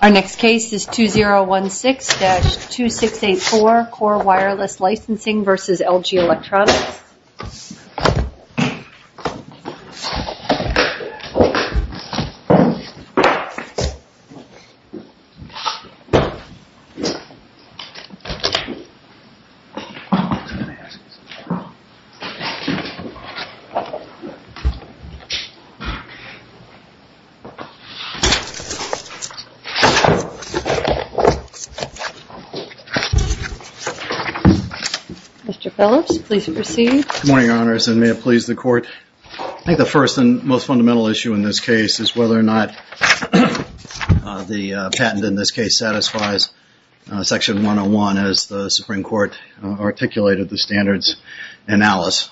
Our next case is 2016-2684 Core Wireless Licensing v. LG Electronics. Mr. Phillips, please proceed. Good morning, Your Honors, and may it please the Court. I think the first and most fundamental issue in this case is whether or not the patent in this case satisfies Section 101 as the Supreme Court articulated the standards analysis.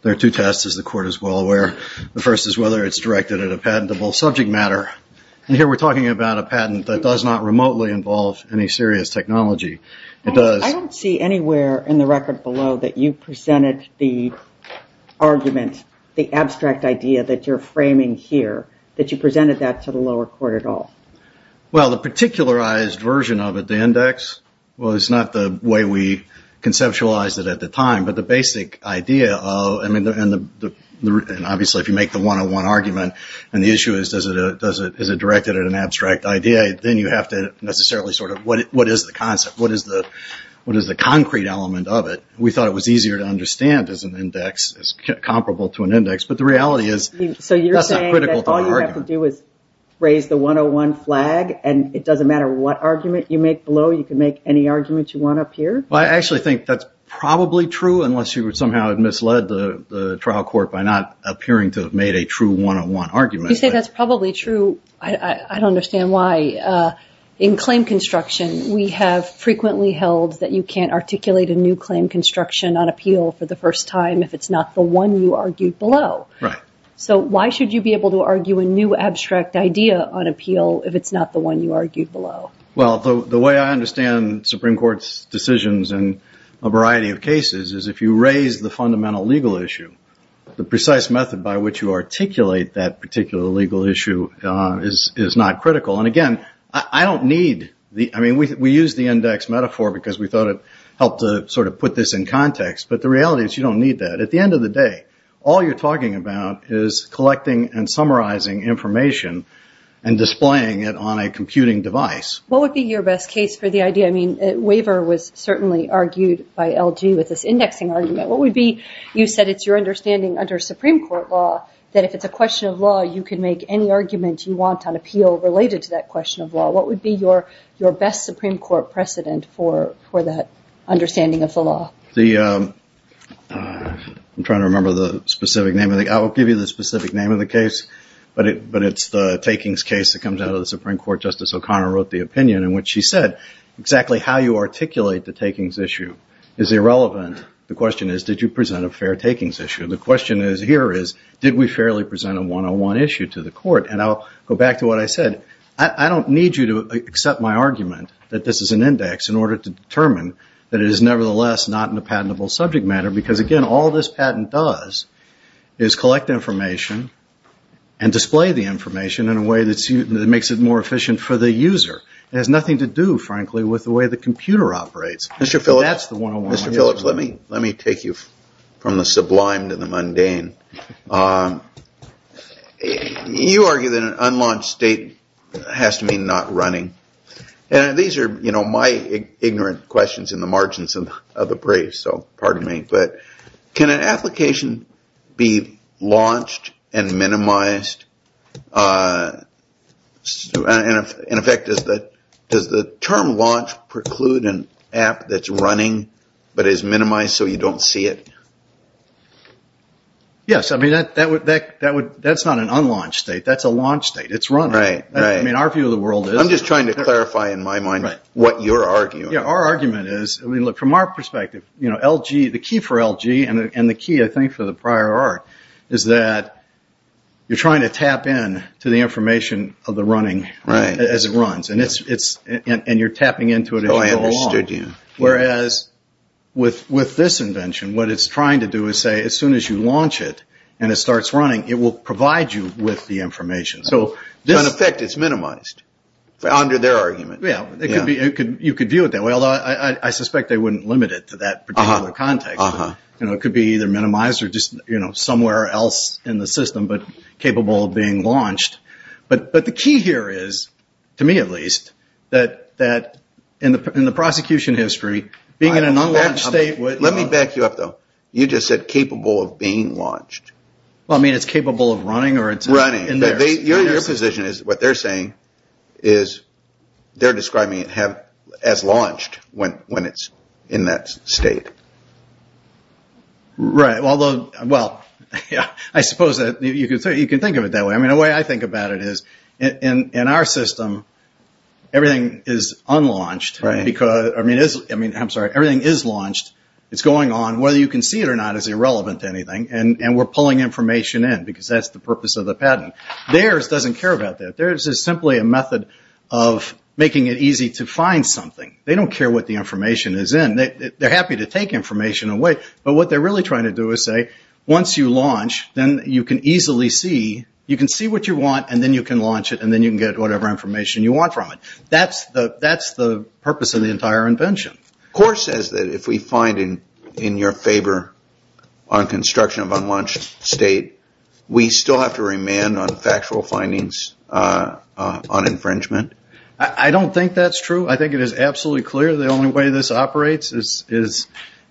There are two tests, as the Court is well aware. The first is whether it's directed at a patentable subject matter. And here we're talking about a patent that does not remotely involve any serious technology. I don't see anywhere in the record below that you presented the argument, the abstract idea that you're framing here, that you presented that to the lower court at all. Well, the particularized version of it, the index, was not the way we conceptualized it at the time. But the basic idea, and obviously if you make the 101 argument and the issue is, is it directed at an abstract idea, then you have to necessarily sort of, what is the concept? What is the concrete element of it? We thought it was easier to understand as an index, as comparable to an index. But the reality is, that's not critical to the argument. So you're saying that all you have to do is raise the 101 flag and it doesn't matter what argument you make below, you can make any argument you want up here? Well, I actually think that's probably true, unless you somehow misled the trial court by not appearing to have made a true 101 argument. You say that's probably true. I don't understand why. In claim construction, we have frequently held that you can't articulate a new claim construction on appeal for the first time if it's not the one you argued below. Right. So why should you be able to argue a new abstract idea on appeal if it's not the one you argued below? Well, the way I understand Supreme Court's decisions in a variety of cases is if you raise the fundamental legal issue, the precise method by which you articulate that particular legal issue is not critical. And again, I don't need the – I mean, we use the index metaphor because we thought it helped to sort of put this in context, but the reality is you don't need that. At the end of the day, all you're talking about is collecting and summarizing information and displaying it on a computing device. What would be your best case for the idea – I mean, Waver was certainly argued by LG with this indexing argument. What would be – you said it's your understanding under Supreme Court law that if it's a question of law, you can make any argument you want on appeal related to that question of law. What would be your best Supreme Court precedent for that understanding of the law? The – I'm trying to remember the specific name of the – I will give you the specific name of the case, but it's the Takings case that comes out of the Supreme Court. Justice O'Connor wrote the opinion in which she said exactly how you articulate the Takings issue is irrelevant. The question is did you present a fair Takings issue? The question here is did we fairly present a 101 issue to the court? And I'll go back to what I said. I don't need you to accept my argument that this is an index in order to determine that it is nevertheless not in a patentable subject matter because, again, all this patent does is collect information and display the information in a way that makes it more efficient for the user. It has nothing to do, frankly, with the way the computer operates. Mr. Phillips, let me take you from the sublime to the mundane. You argue that an unlaunched state has to mean not running. And these are my ignorant questions in the margins of the brief, so pardon me. But can an application be launched and minimized? In effect, does the term launch preclude an app that's running but is minimized so you don't see it? Yes. That's not an unlaunched state. That's a launched state. It's running. Our view of the world is. I'm just trying to clarify in my mind what you're arguing. From our perspective, the key for LG and the key, I think, for the prior art is that you're trying to tap in to the information of the running as it runs. And you're tapping into it as you go along. Oh, I understood you. Whereas with this invention, what it's trying to do is say as soon as you launch it and it starts running, it will provide you with the information. So in effect, it's minimized under their argument. Yeah, you could view it that way, although I suspect they wouldn't limit it to that particular context. It could be either minimized or just somewhere else in the system but capable of being launched. But the key here is, to me at least, that in the prosecution history, being in an unlaunched state would. Let me back you up, though. You just said capable of being launched. Well, I mean, it's capable of running or it's running. Your position is what they're saying is they're describing it as launched when it's in that state. Right. Well, I suppose you could think of it that way. The way I think about it is in our system, everything is unlaunched. I'm sorry, everything is launched. It's going on. Whether you can see it or not is irrelevant to anything. And we're pulling information in because that's the purpose of the patent. Theirs doesn't care about that. Theirs is simply a method of making it easy to find something. They don't care what the information is in. They're happy to take information away. But what they're really trying to do is say, once you launch, then you can easily see. You can see what you want, and then you can launch it, and then you can get whatever information you want from it. That's the purpose of the entire invention. The court says that if we find in your favor on construction of an unlaunched state, we still have to remand on factual findings on infringement. I don't think that's true. I think it is absolutely clear the only way this operates is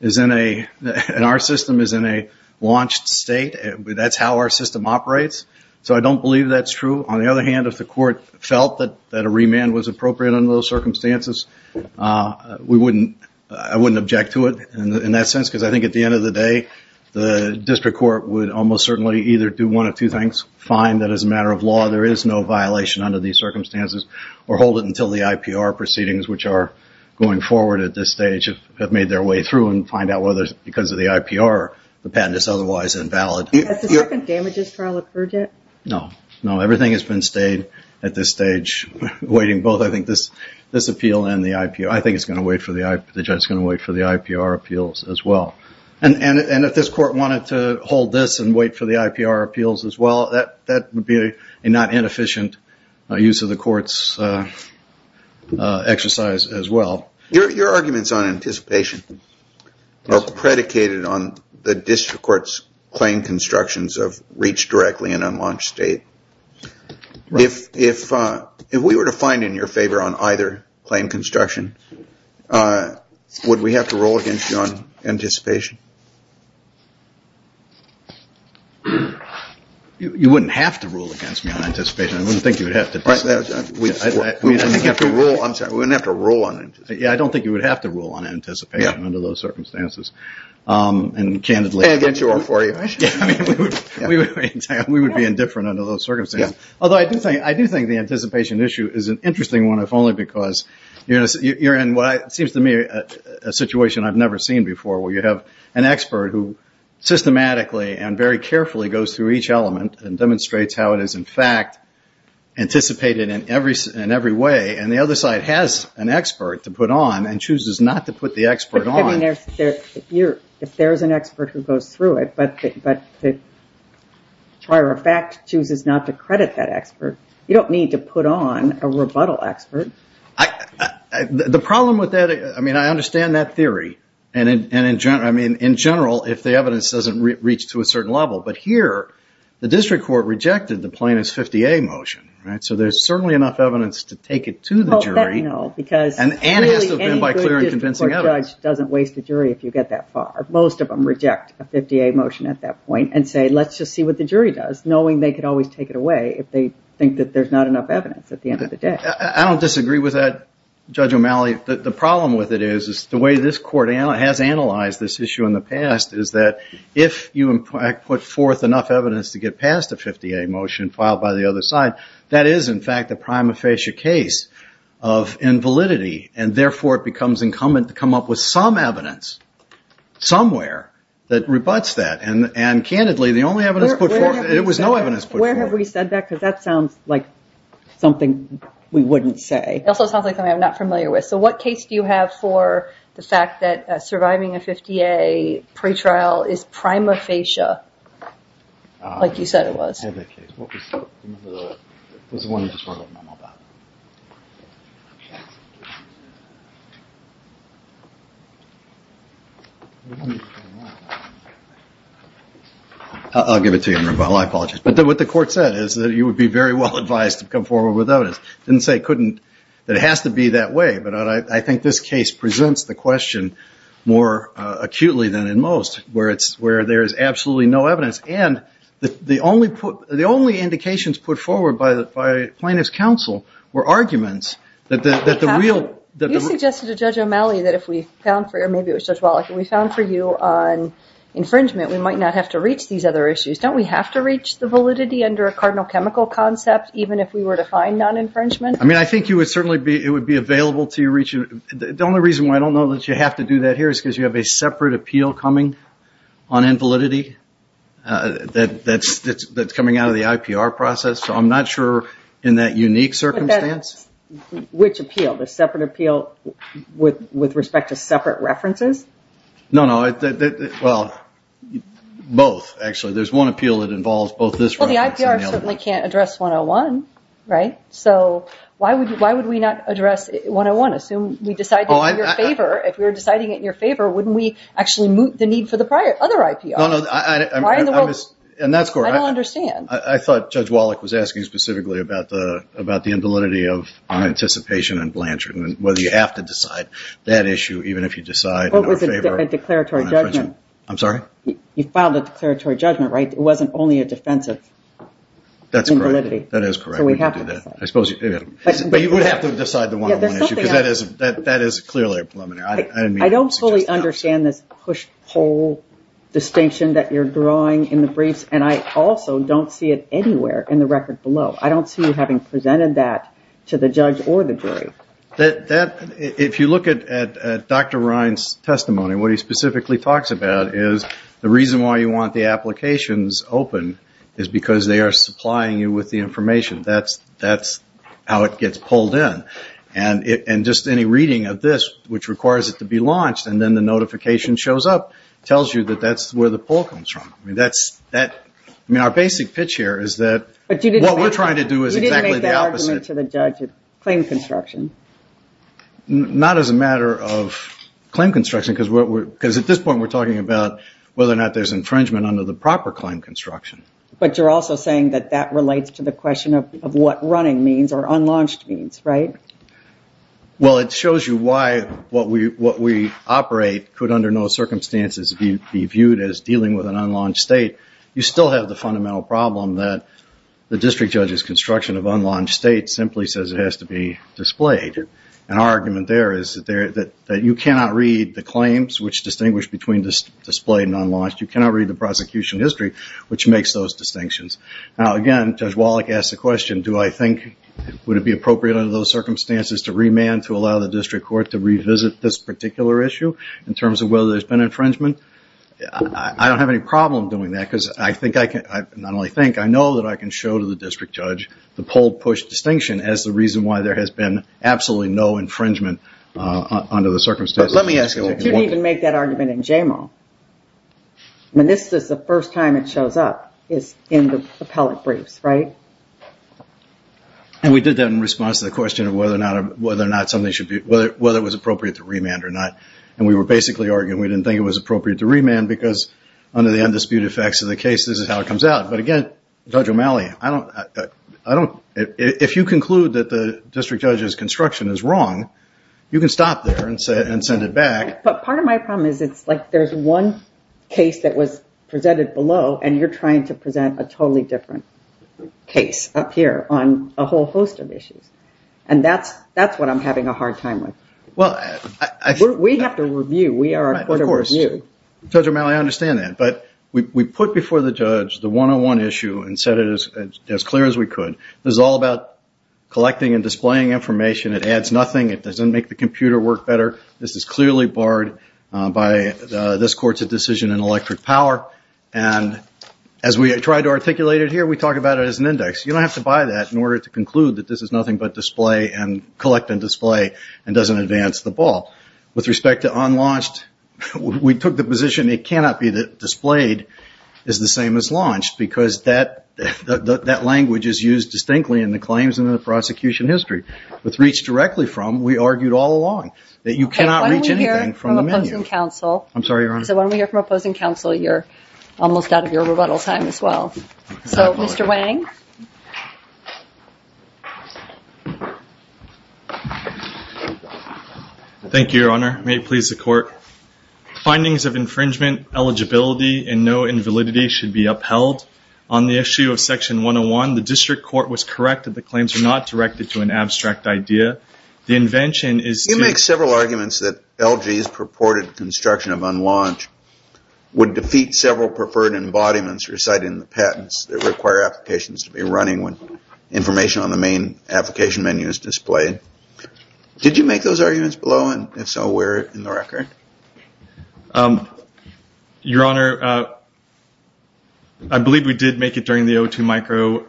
in a – and our system is in a launched state. That's how our system operates. So I don't believe that's true. On the other hand, if the court felt that a remand was appropriate under those circumstances, I wouldn't object to it in that sense, because I think at the end of the day, the district court would almost certainly either do one of two things, find that as a matter of law there is no violation under these circumstances, or hold it until the IPR proceedings, which are going forward at this stage, have made their way through and find out whether because of the IPR the patent is otherwise invalid. Has the second damages trial occurred yet? No. I think it's going to wait for the IPR appeals as well. And if this court wanted to hold this and wait for the IPR appeals as well, that would be a not inefficient use of the court's exercise as well. Your arguments on anticipation are predicated on the district court's claimed constructions of reach directly and unlaunched state. If we were to find in your favor on either claim construction, would we have to rule against you on anticipation? You wouldn't have to rule against me on anticipation. I wouldn't think you would have to. I'm sorry, we wouldn't have to rule on it. Yeah, I don't think you would have to rule on anticipation under those circumstances. We would be indifferent under those circumstances. Although I do think the anticipation issue is an interesting one, if only because you're in what seems to me a situation I've never seen before, where you have an expert who systematically and very carefully goes through each element and demonstrates how it is in fact anticipated in every way, and the other side has an expert to put on and chooses not to put the expert on. If there's an expert who goes through it but chooses not to credit that expert, you don't need to put on a rebuttal expert. The problem with that, I mean I understand that theory, and in general if the evidence doesn't reach to a certain level, but here the district court rejected the plaintiff's 50A motion, so there's certainly enough evidence to take it to the jury. Any good district court judge doesn't waste a jury if you get that far. Most of them reject a 50A motion at that point and say let's just see what the jury does, knowing they could always take it away if they think that there's not enough evidence at the end of the day. I don't disagree with that, Judge O'Malley. The problem with it is the way this court has analyzed this issue in the past is that if you put forth enough evidence to get past a 50A motion filed by the other side, that is in fact the prima facie case of invalidity, and therefore it becomes incumbent to come up with some evidence somewhere that rebutts that. And candidly, the only evidence put forth, there was no evidence put forth. Where have we said that? Because that sounds like something we wouldn't say. It also sounds like something I'm not familiar with. So what case do you have for the fact that surviving a 50A pretrial is prima facie, like you said it was? I'll give it to you. I apologize. But what the court said is that you would be very well advised to come forward with evidence. It didn't say it couldn't, that it has to be that way, but I think this case presents the question more acutely than in most, where there is absolutely no evidence. And the only indications put forward by plaintiff's counsel were arguments that the real- You suggested to Judge O'Malley that if we found for you, or maybe it was Judge Wallach, if we found for you on infringement, we might not have to reach these other issues. Don't we have to reach the validity under a cardinal chemical concept, even if we were to find non-infringement? I mean, I think it would be available to you. The only reason why I don't know that you have to do that here is because you have a separate appeal coming on invalidity. That's coming out of the IPR process. So I'm not sure in that unique circumstance. Which appeal? The separate appeal with respect to separate references? No, no. Well, both, actually. There's one appeal that involves both this reference and the other. Well, the IPR certainly can't address 101, right? So why would we not address 101? Assume we decided in your favor, if we were deciding it in your favor, wouldn't we actually meet the need for the other IPR? No, no. And that's correct. I don't understand. I thought Judge Wallach was asking specifically about the invalidity of anticipation and blanchard and whether you have to decide that issue, even if you decide in our favor. What was the declaratory judgment? I'm sorry? You filed a declaratory judgment, right? It wasn't only a defensive invalidity. That is correct. So we have to decide. But you would have to decide the 101 issue because that is clearly a preliminary. I don't fully understand this push-pull distinction that you're drawing in the briefs, and I also don't see it anywhere in the record below. I don't see you having presented that to the judge or the jury. If you look at Dr. Ryan's testimony, what he specifically talks about is the reason why you want the applications open is because they are supplying you with the information. That's how it gets pulled in. And just any reading of this, which requires it to be launched, and then the notification shows up, tells you that that's where the pull comes from. I mean, our basic pitch here is that what we're trying to do is exactly the opposite. But you didn't make that argument to the judge of claim construction. Not as a matter of claim construction because at this point we're talking about whether or not there's infringement under the proper claim construction. But you're also saying that that relates to the question of what running means or unlaunched means, right? Well, it shows you why what we operate could, under no circumstances, be viewed as dealing with an unlaunched state. You still have the fundamental problem that the district judge's construction of unlaunched states simply says it has to be displayed. And our argument there is that you cannot read the claims, which distinguish between displayed and unlaunched. You cannot read the prosecution history, which makes those distinctions. Now, again, Judge Wallach asked the question, do I think, would it be appropriate under those circumstances to remand, to allow the district court to revisit this particular issue in terms of whether there's been infringement? I don't have any problem doing that because I think I can, not only think, I know that I can show to the district judge the pull-push distinction as the reason why there has been absolutely no infringement under the circumstances. You can even make that argument in JMO. I mean, this is the first time it shows up is in the appellate briefs, right? And we did that in response to the question of whether or not something should be, whether it was appropriate to remand or not. And we were basically arguing we didn't think it was appropriate to remand because under the undisputed facts of the case, this is how it comes out. But again, Judge O'Malley, I don't, if you conclude that the district judge's construction is wrong, you can stop there and send it back. But part of my problem is it's like there's one case that was presented below and you're trying to present a totally different case up here on a whole host of issues. And that's what I'm having a hard time with. We have to review. We are a court of review. Of course. Judge O'Malley, I understand that. But we put before the judge the one-on-one issue and said it as clear as we could. This is all about collecting and displaying information. It adds nothing. It doesn't make the computer work better. This is clearly barred by this court's decision in electric power. And as we try to articulate it here, we talk about it as an index. You don't have to buy that in order to conclude that this is nothing but display and collect and display and doesn't advance the ball. With respect to unlaunched, we took the position it cannot be that displayed is the same as launched because that language is used distinctly in the claims and in the prosecution history. With reach directly from, we argued all along that you cannot reach anything from the menu. I'm sorry, Your Honor. So when we hear from opposing counsel, you're almost out of your rebuttal time as well. So, Mr. Wang? Thank you, Your Honor. May it please the court. Findings of infringement, eligibility, and no invalidity should be upheld. On the issue of section 101, the district court was correct that the claims are not directed to an abstract idea. The invention is to- You make several arguments that LG's purported construction of unlaunched would defeat several preferred embodiments recited in the patents that require applications to be running when information on the main application menu is displayed. Did you make those arguments below? And if so, where in the record? Your Honor, I believe we did make it during the O2 micro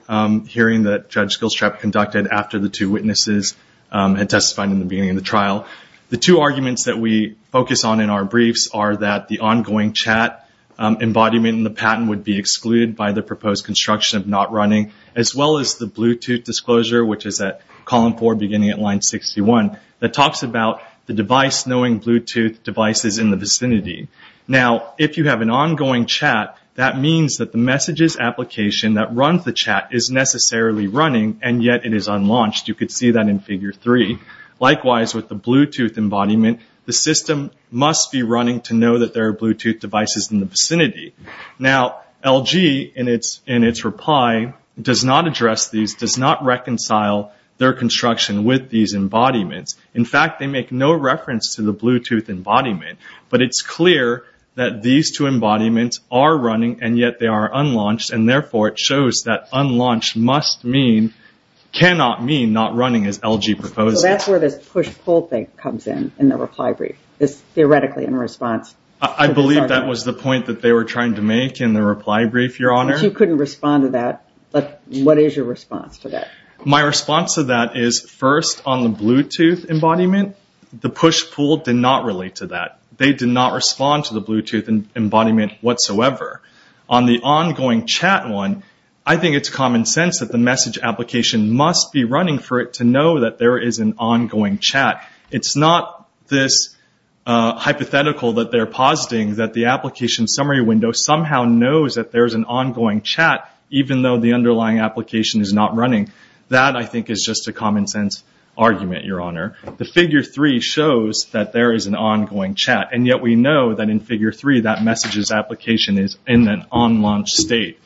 hearing that Judge Gilstrap conducted after the two witnesses had testified in the beginning of the trial. The two arguments that we focus on in our briefs are that the ongoing chat embodiment in the patent would be excluded by the proposed construction of not running, as well as the Bluetooth disclosure, which is at column four beginning at line 61, that talks about the device knowing Bluetooth devices in the vicinity. Now, if you have an ongoing chat, that means that the messages application that runs the chat is necessarily running, and yet it is unlaunched. You could see that in figure three. Likewise, with the Bluetooth embodiment, the system must be running to know that there are Bluetooth devices in the vicinity. Now, LG, in its reply, does not address these, does not reconcile their construction with these embodiments. In fact, they make no reference to the Bluetooth embodiment, but it is clear that these two embodiments are running, and yet they are unlaunched, and therefore it shows that unlaunched cannot mean not running, as LG proposes. So that is where this push-pull thing comes in, in the reply brief. I believe that was the point that they were trying to make in the reply brief, Your Honor. You could not respond to that, but what is your response to that? My response to that is, first, on the Bluetooth embodiment, the push-pull did not relate to that. They did not respond to the Bluetooth embodiment whatsoever. On the ongoing chat one, I think it is common sense that the message application must be running for it to know that there is an ongoing chat. It is not this hypothetical that they are positing that the application summary window somehow knows that there is an ongoing chat, even though the underlying application is not running. That, I think, is just a common sense argument, Your Honor. The figure three shows that there is an ongoing chat, and yet we know that in figure three, that message's application is in an unlaunched state.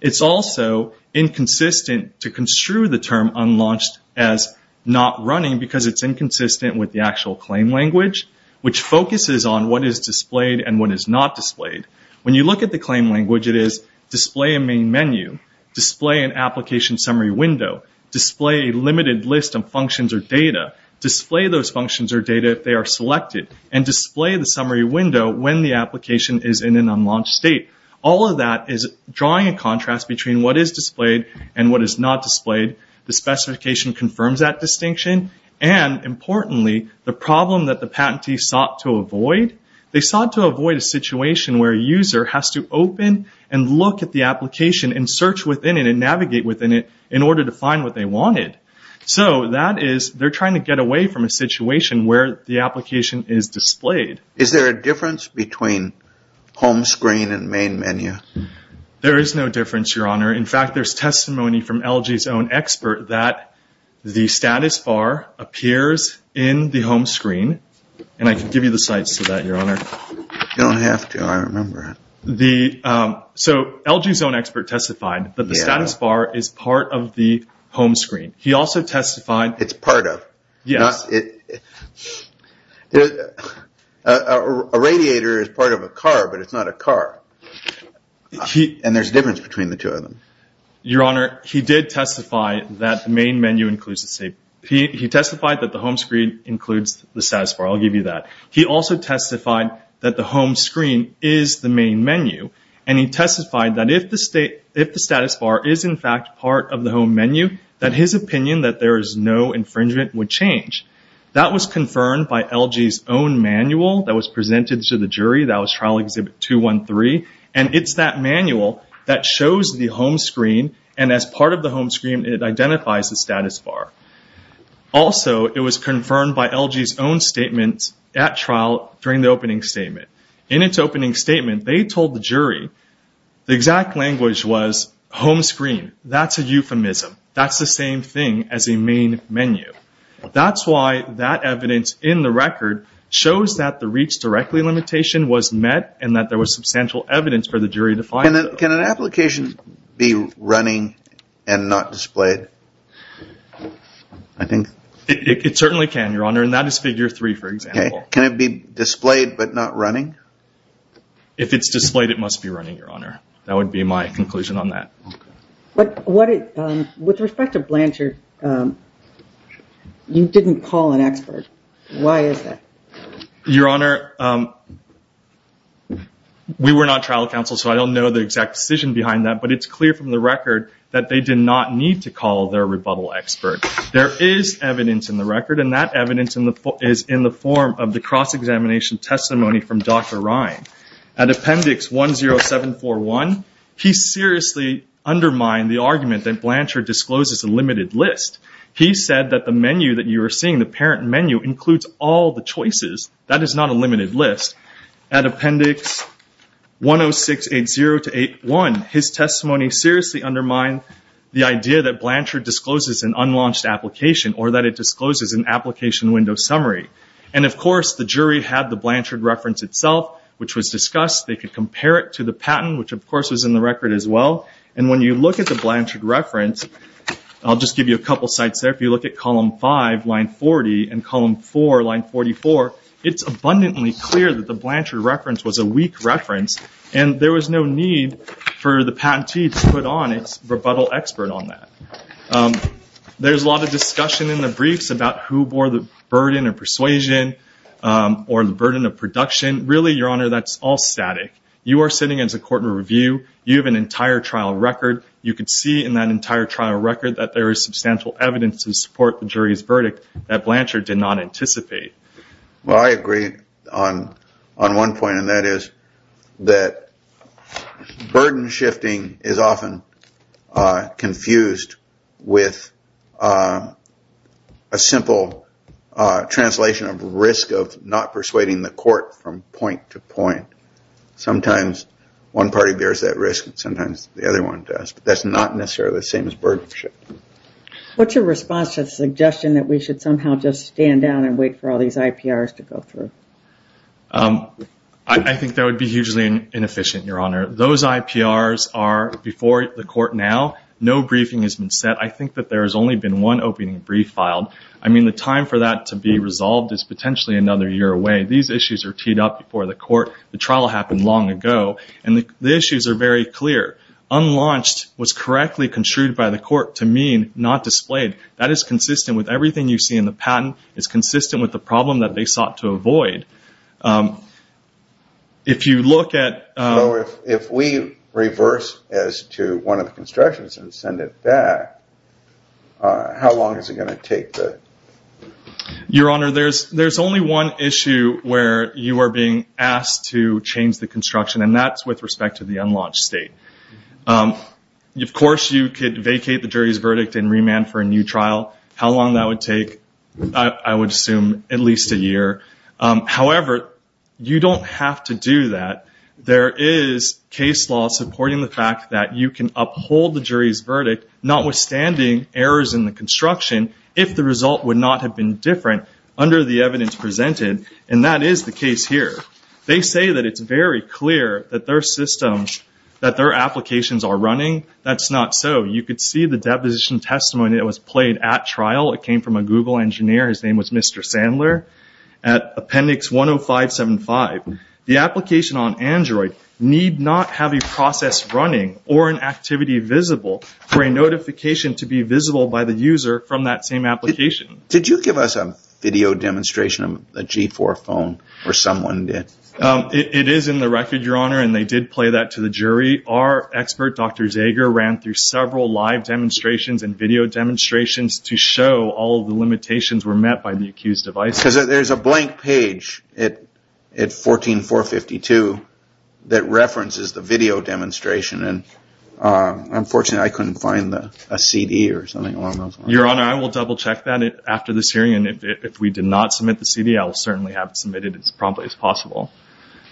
It is also inconsistent to construe the term unlaunched as not running because it is inconsistent with the actual claim language, which focuses on what is displayed and what is not displayed. When you look at the claim language, it is display a main menu, display an application summary window, display a limited list of functions or data, display those functions or data if they are selected, and display the summary window when the application is in an unlaunched state. All of that is drawing a contrast between what is displayed and what is not displayed. The specification confirms that distinction. Importantly, the problem that the patentee sought to avoid, they sought to avoid a situation where a user has to open and look at the application and search within it and navigate within it in order to find what they wanted. That is, they are trying to get away from a situation where the application is displayed. Is there a difference between home screen and main menu? There is no difference, Your Honor. In fact, there is testimony from LG's own expert that the status bar appears in the home screen. And I can give you the sites for that, Your Honor. You don't have to. I remember it. So LG's own expert testified that the status bar is part of the home screen. He also testified... It's part of. Yes. A radiator is part of a car, but it's not a car. And there's a difference between the two of them. Your Honor, he did testify that the main menu includes... He testified that the home screen includes the status bar. I'll give you that. He also testified that the home screen is the main menu. And he testified that if the status bar is, in fact, part of the home menu, that his opinion that there is no infringement would change. That was confirmed by LG's own manual that was presented to the jury. That was Trial Exhibit 213. And it's that manual that shows the home screen, and as part of the home screen, it identifies the status bar. Also, it was confirmed by LG's own statement at trial during the opening statement. In its opening statement, they told the jury the exact language was home screen. That's a euphemism. That's the same thing as a main menu. That's why that evidence in the record shows that the reach directly limitation was met and that there was substantial evidence for the jury to find it. Can an application be running and not displayed? It certainly can, Your Honor, and that is Figure 3, for example. Can it be displayed but not running? If it's displayed, it must be running, Your Honor. That would be my conclusion on that. With respect to Blanchard, you didn't call an expert. Why is that? Your Honor, we were not trial counsel, so I don't know the exact decision behind that, but it's clear from the record that they did not need to call their rebuttal expert. There is evidence in the record, and that evidence is in the form of the cross-examination testimony from Dr. Ryan. At Appendix 10741, he seriously undermined the argument that Blanchard discloses a limited list. He said that the menu that you are seeing, the parent menu, includes all the choices. That is not a limited list. At Appendix 10680-81, his testimony seriously undermined the idea that Blanchard discloses an unlaunched application or that it discloses an application window summary. Of course, the jury had the Blanchard reference itself, which was discussed. They could compare it to the patent, which of course was in the record as well. When you look at the Blanchard reference, I'll just give you a couple of sites there. If you look at Column 5, Line 40, and Column 4, Line 44, it's abundantly clear that the Blanchard reference was a weak reference, and there was no need for the patentee to put on its rebuttal expert on that. There's a lot of discussion in the briefs about who bore the burden of persuasion or the burden of production. Really, Your Honor, that's all static. You are sitting as a court in review. You have an entire trial record. You can see in that entire trial record that there is substantial evidence to support the jury's verdict that Blanchard did not anticipate. Well, I agree on one point, and that is that burden shifting is often confused with a simple translation of risk of not persuading the court from point to point. Sometimes one party bears that risk, and sometimes the other one does. That's not necessarily the same as burden shifting. What's your response to the suggestion that we should somehow just stand down and wait for all these IPRs to go through? I think that would be hugely inefficient, Your Honor. Those IPRs are before the court now. No briefing has been set. I think that there has only been one opening brief filed. I mean, the time for that to be resolved is potentially another year away. These issues are teed up before the court. The trial happened long ago, and the issues are very clear. Unlaunched was correctly construed by the court to mean not displayed. That is consistent with everything you see in the patent. It's consistent with the problem that they sought to avoid. If we reverse as to one of the constructions and send it back, how long is it going to take? Your Honor, there's only one issue where you are being asked to change the construction, and that's with respect to the unlaunched state. Of course, you could vacate the jury's verdict and remand for a new trial. How long that would take, I would assume at least a year. However, you don't have to do that. There is case law supporting the fact that you can uphold the jury's verdict, notwithstanding errors in the construction, if the result would not have been different under the evidence presented, and that is the case here. They say that it's very clear that their systems, that their applications are running. That's not so. You could see the deposition testimony that was played at trial. It came from a Google engineer. His name was Mr. Sandler at Appendix 10575. The application on Android need not have a process running or an activity visible for a notification to be visible by the user from that same application. Did you give us a video demonstration of a G4 phone, or someone did? It is in the record, Your Honor, and they did play that to the jury. Our expert, Dr. Zager, ran through several live demonstrations and video demonstrations to show all the limitations were met by the accused device. There's a blank page at 14452 that references the video demonstration, and unfortunately, I couldn't find a CD or something along those lines. Your Honor, I will double-check that after this hearing, and if we did not submit the CD, I will certainly have it submitted as promptly as possible.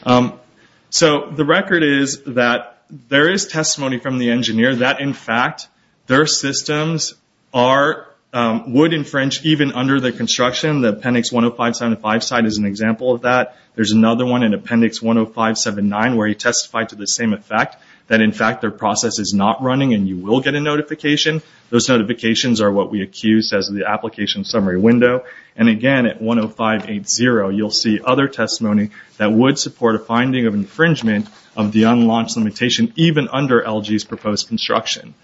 The record is that there is testimony from the engineer that, in fact, their systems would infringe even under the construction. The Appendix 10575 site is an example of that. There's another one in Appendix 10579 where he testified to the same effect, that, in fact, their process is not running and you will get a notification. Those notifications are what we accused as the application summary window. Again, at 10580, you'll see other testimony that would support a finding of infringement of the unlaunched limitation, even under LG's proposed construction.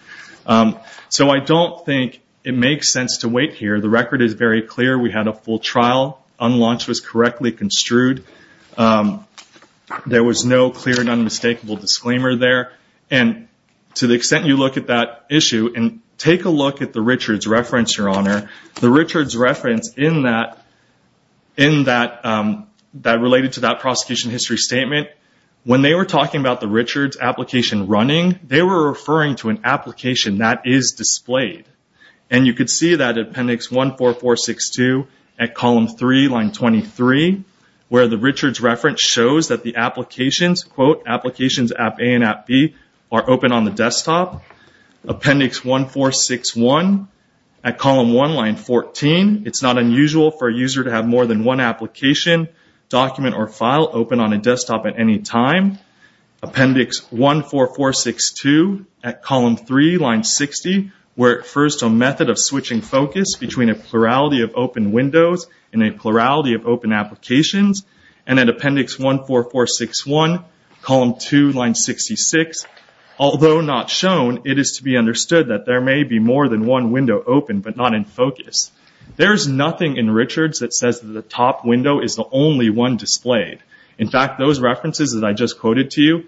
I don't think it makes sense to wait here. The record is very clear. We had a full trial. Unlaunch was correctly construed. There was no clear and unmistakable disclaimer there. To the extent you look at that issue and take a look at the Richards reference, Your Honor, the Richards reference related to that prosecution history statement, when they were talking about the Richards application running, they were referring to an application that is displayed. You can see that in Appendix 14462 at Column 3, Line 23, where the Richards reference shows that the applications, quote, Applications App A and App B are open on the desktop. Appendix 1461 at Column 1, Line 14, it's not unusual for a user to have more than one application, document, or file open on a desktop at any time. Appendix 14462 at Column 3, Line 60, where at first a method of switching focus between a plurality of open windows and a plurality of open applications. And at Appendix 14461, Column 2, Line 66, although not shown, it is to be understood that there may be more than one window open, but not in focus. There is nothing in Richards that says that the top window is the only one displayed. In fact, those references that I just quoted to you,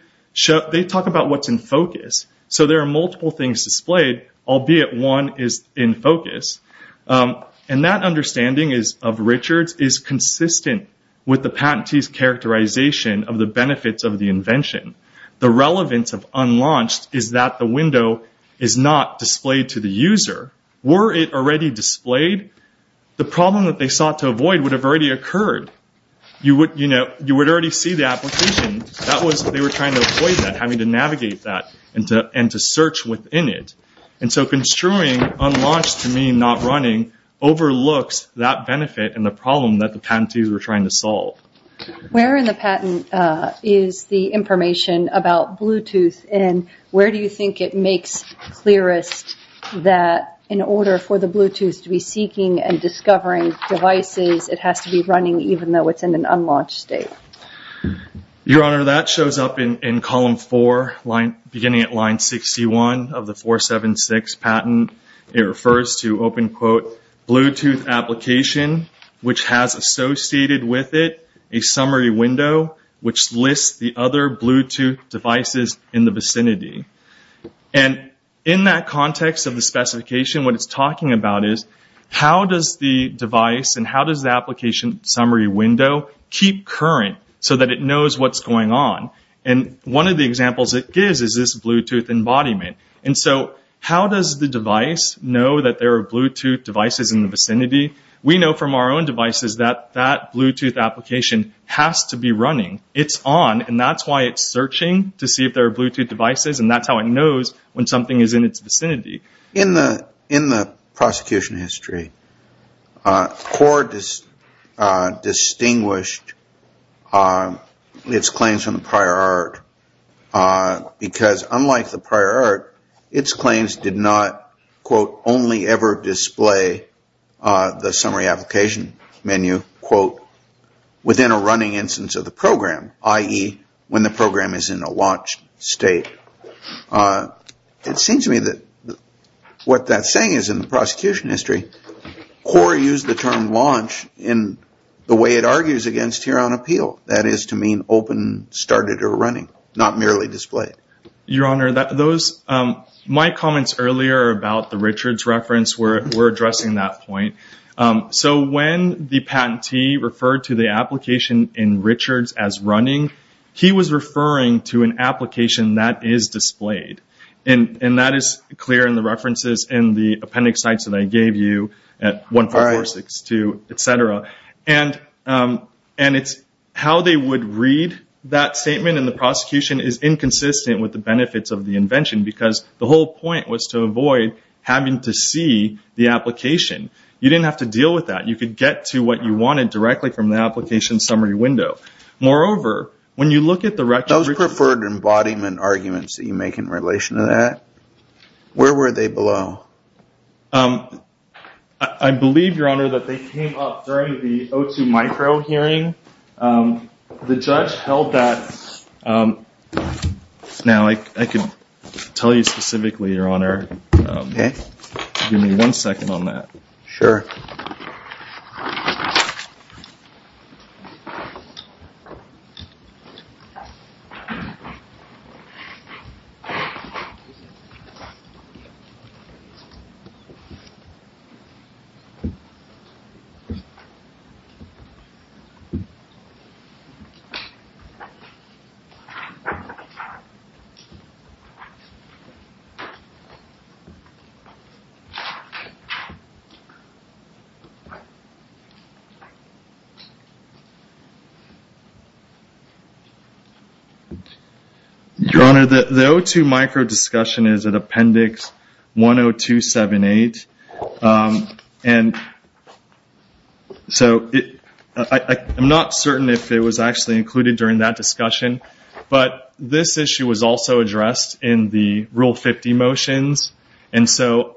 they talk about what's in focus. So there are multiple things displayed, albeit one is in focus. And that understanding of Richards is consistent with the patentee's characterization of the benefits of the invention. The relevance of unlaunched is that the window is not displayed to the user. Were it already displayed, the problem that they sought to avoid would have already occurred. You would already see the application. They were trying to avoid that, having to navigate that and to search within it. And so construing unlaunched to mean not running overlooks that benefit and the problem that the patentees were trying to solve. Where in the patent is the information about Bluetooth? And where do you think it makes clearest that in order for the Bluetooth to be seeking and discovering devices, it has to be running even though it's in an unlaunched state? Your Honor, that shows up in Column 4, beginning at Line 61 of the 476 patent. It refers to open quote, Bluetooth application, which has associated with it a summary window, which lists the other Bluetooth devices in the vicinity. And in that context of the specification, what it's talking about is, how does the device and how does the application summary window keep current so that it knows what's going on? And one of the examples it gives is this Bluetooth embodiment. And so how does the device know that there are Bluetooth devices in the vicinity? We know from our own devices that that Bluetooth application has to be running. It's on and that's why it's searching to see if there are Bluetooth devices and that's how it knows when something is in its vicinity. In the prosecution history, court has distinguished its claims from the prior art because unlike the prior art, its claims did not, quote, only ever display the summary application menu, quote, within a running instance of the program, i.e., when the program is in a launched state. It seems to me that what that's saying is in the prosecution history, court used the term launch in the way it argues against Huron Appeal, that is to mean open, started, or running, not merely displayed. Your Honor, my comments earlier about the Richards reference were addressing that point. So when the patentee referred to the application in Richards as running, he was referring to an application that is displayed. And that is clear in the references in the appendix sites that I gave you at 14462, etc. And it's how they would read that statement in the prosecution is inconsistent with the benefits of the invention because the whole point was to avoid having to see the application. You didn't have to deal with that. You could get to what you wanted directly from the application summary window. Moreover, when you look at the records… Those preferred embodiment arguments that you make in relation to that, where were they below? I believe, Your Honor, that they came up during the O2 micro hearing. The judge held that… Now I can tell you specifically, Your Honor. Give me one second on that. Sure. Your Honor, the O2 micro discussion is at appendix 102A. And so I'm not certain if it was actually included during that discussion. But this issue was also addressed in the Rule 50 motions. And so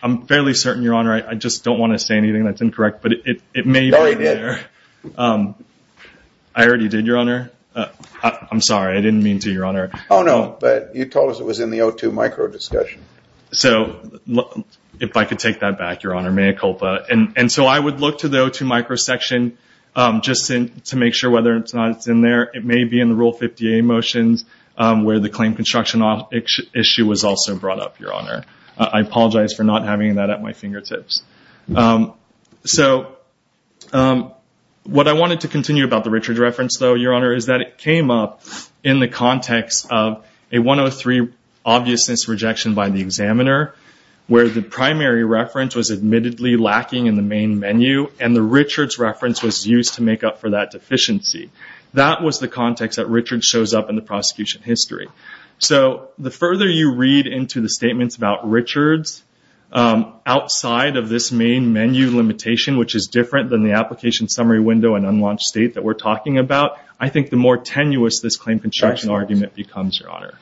I'm fairly certain, Your Honor, I just don't want to say anything that's incorrect. But it may be there. No, you did. I already did, Your Honor. I'm sorry. I didn't mean to, Your Honor. Oh, no. But you told us it was in the O2 micro discussion. So if I could take that back, Your Honor, mea culpa. And so I would look to the O2 micro section just to make sure whether or not it's in there. It may be in the Rule 50A motions where the claim construction issue was also brought up, Your Honor. I apologize for not having that at my fingertips. So what I wanted to continue about the Richards reference, though, Your Honor, is that it came up in the context of a 103 obviousness rejection by the examiner where the primary reference was admittedly lacking in the main menu and the Richards reference was used to make up for that deficiency. That was the context that Richards shows up in the prosecution history. So the further you read into the statements about Richards outside of this main menu limitation, which is different than the application summary window and unlaunched state that we're talking about, I think the more tenuous this claim construction argument becomes, Your Honor.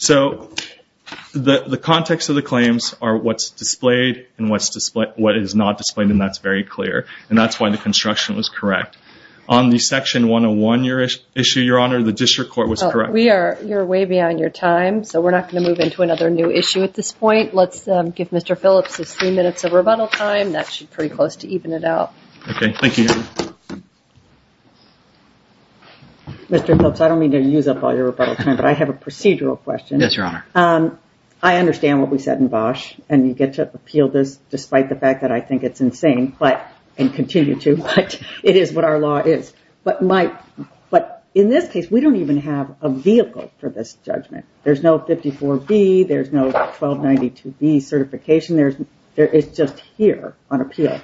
So the context of the claims are what's displayed and what is not displayed, and that's very clear. And that's why the construction was correct. On the Section 101 issue, Your Honor, the district court was correct. We are way beyond your time, so we're not going to move into another new issue at this point. Let's give Mr. Phillips his three minutes of rebuttal time. That's pretty close to even it out. Okay. Thank you. Mr. Phillips, I don't mean to use up all your rebuttal time, but I have a procedural question. Yes, Your Honor. I understand what we said in Bosch and you get to appeal this despite the fact that I think it's insane and continue to, but it is what our law is. But in this case, we don't even have a vehicle for this judgment. There's no 54B. There's no 1292B certification. It's just here on appeal.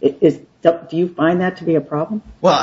Do you find that to be a problem? Well,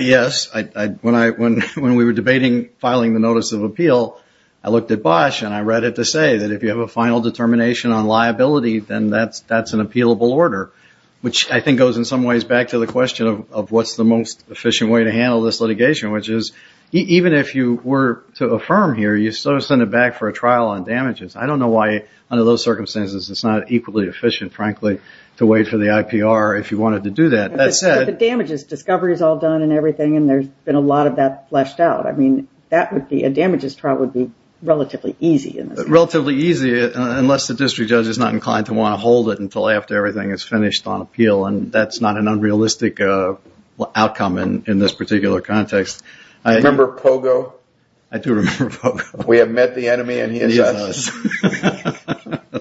yes. When we were debating filing the notice of appeal, I looked at Bosch and I read it to say that if you have a final determination on liability, then that's an appealable order, which I think goes in some ways back to the question of what's the most efficient way to handle this litigation, which is even if you were to affirm here, you still send it back for a trial on damages. I don't know why under those circumstances it's not equally efficient, frankly, to wait for the IPR if you wanted to do that. But the damage is discovery is all done and everything and there's been a lot of that fleshed out. I mean, a damages trial would be relatively easy in this case. Relatively easy unless the district judge is not inclined to want to hold it until after everything is finished on appeal and that's not an unrealistic outcome in this particular context. Do you remember Pogo? I do remember Pogo. We have met the enemy and he is us.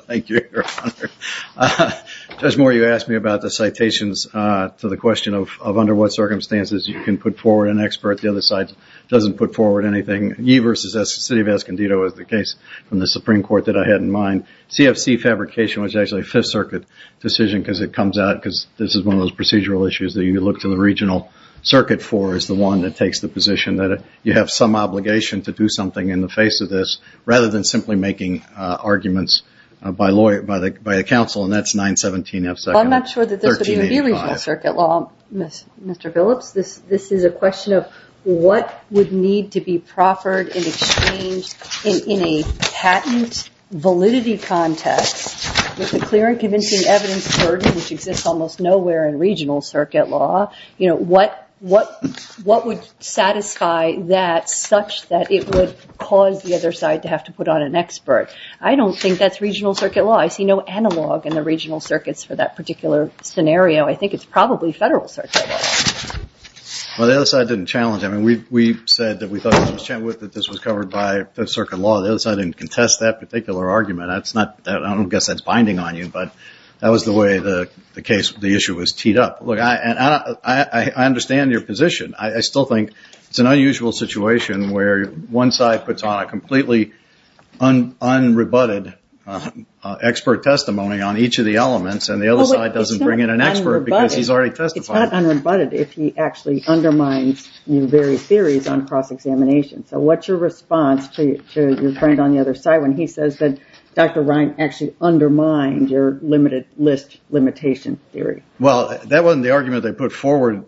Thank you, Your Honor. Judge Moore, you asked me about the citations to the question of under what circumstances you can put forward an expert. The other side doesn't put forward anything. Ye versus the City of Escondido is the case from the Supreme Court that I had in mind. CFC fabrication was actually a Fifth Circuit decision because it comes out because this is one of those procedural issues that you look to the regional circuit for is the one that takes the position that you have some obligation to do something in the face of this rather than simply making arguments by the counsel and that's 917F. I'm not sure that this would even be regional circuit law, Mr. Billups. This is a question of what would need to be proffered in exchange in a patent validity context with a clear and convincing evidence burden which exists almost nowhere in regional circuit law. What would satisfy that such that it would cause the other side to have to put on an expert? I don't think that's regional circuit law. I see no analog in the regional circuits for that particular scenario. I think it's probably federal circuit law. Well, the other side didn't challenge it. We said that we thought this was covered by Fifth Circuit law. The other side didn't contest that particular argument. I don't guess that's binding on you, but that was the way the issue was teed up. I understand your position. I still think it's an unusual situation where one side puts on a completely unrebutted expert testimony on each of the elements and the other side doesn't bring in an expert because he's already testified. It's not unrebutted if he actually undermines your very theories on cross-examination. So what's your response to your friend on the other side when he says that Dr. Ryan actually undermined your limited list limitation theory? Well, that wasn't the argument they put forward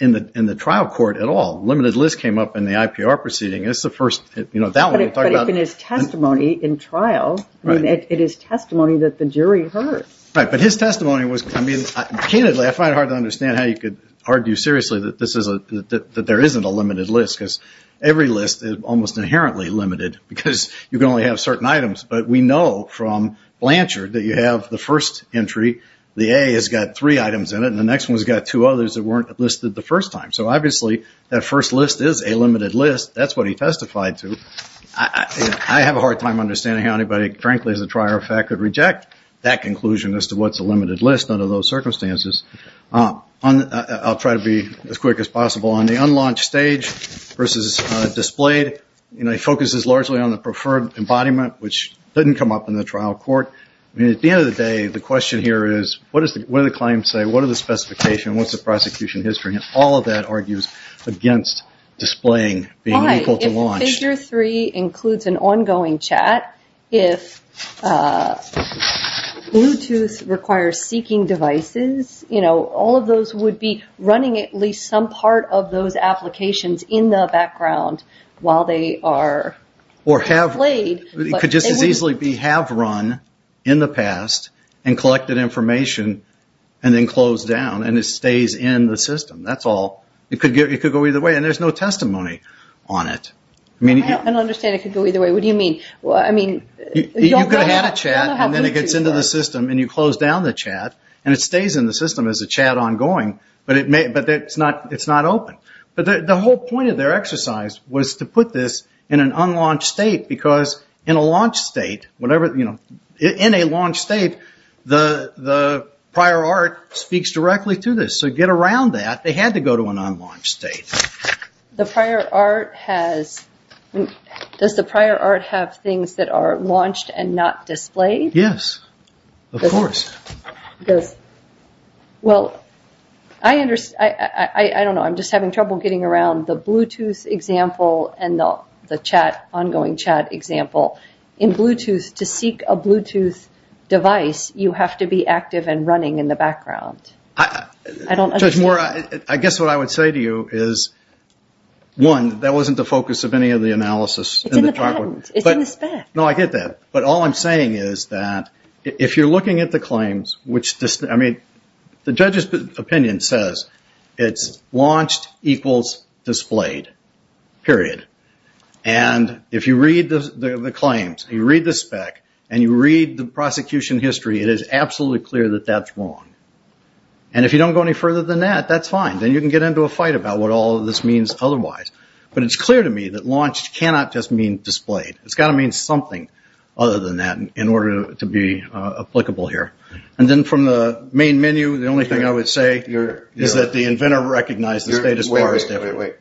in the trial court at all. Limited list came up in the IPR proceeding. But if it is testimony in trial, it is testimony that the jury heard. But his testimony was, I mean, candidly, I find it hard to understand how you could argue seriously that there isn't a limited list because every list is almost inherently limited because you can only have certain items. But we know from Blanchard that you have the first entry. The A has got three items in it. And the next one has got two others that weren't listed the first time. So obviously that first list is a limited list. That's what he testified to. I have a hard time understanding how anybody, frankly, as a trier of fact, could reject that conclusion as to what's a limited list under those circumstances. I'll try to be as quick as possible. On the unlaunched stage versus displayed, you know, he focuses largely on the preferred embodiment, which didn't come up in the trial court. I mean, at the end of the day, the question here is what do the claims say? What are the specifications? What's the prosecution history? And all of that argues against displaying being able to launch. All right. If figure three includes an ongoing chat, if Bluetooth requires seeking devices, you know, all of those would be running at least some part of those applications in the background while they are played. It could just as easily be have run in the past and collected information and then closed down and it stays in the system. That's all. It could go either way. And there's no testimony on it. I don't understand it could go either way. What do you mean? You could have had a chat and then it gets into the system and you close down the chat and it stays in the system as a chat ongoing, but it's not open. But the whole point of their exercise was to put this in an unlaunched state because in a launched state, in a launched state, the prior art speaks directly to this. So to get around that, they had to go to an unlaunched state. The prior art has, does the prior art have things that are launched and not displayed? Yes, of course. Well, I don't know. I'm just having trouble getting around the Bluetooth example and the ongoing chat example. In Bluetooth, to seek a Bluetooth device, you have to be active and running in the background. Judge Moore, I guess what I would say to you is, one, that wasn't the focus of any of the analysis. It's in the patent. It's in the spec. No, I get that. But all I'm saying is that if you're looking at the claims, which, I mean, the judge's opinion says it's launched equals displayed, period. And if you read the claims, you read the spec, and you read the prosecution history, it is absolutely clear that that's wrong. And if you don't go any further than that, that's fine. Then you can get into a fight about what all of this means otherwise. But it's clear to me that launched cannot just mean displayed. It's got to mean something other than that in order to be applicable here. And then from the main menu, the only thing I would say is that the inventor recognized the status bar as different. Wait,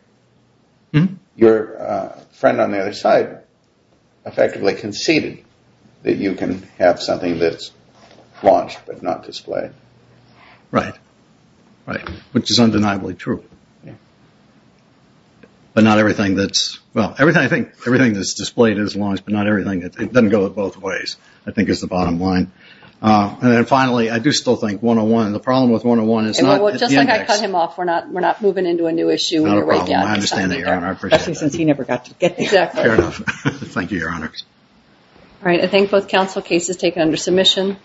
wait, wait. Your friend on the other side effectively conceded that you can have something that's launched but not displayed. Right, right, which is undeniably true. But not everything that's, well, I think everything that's displayed is launched, but not everything that doesn't go both ways I think is the bottom line. And then finally, I do still think 101, the problem with 101 is not the index. Just like I cut him off, we're not moving into a new issue. Not a problem. I understand that, Your Honor. Especially since he never got to get there. Fair enough. Thank you, Your Honor. All right. I thank both counsel. Case is taken under submission.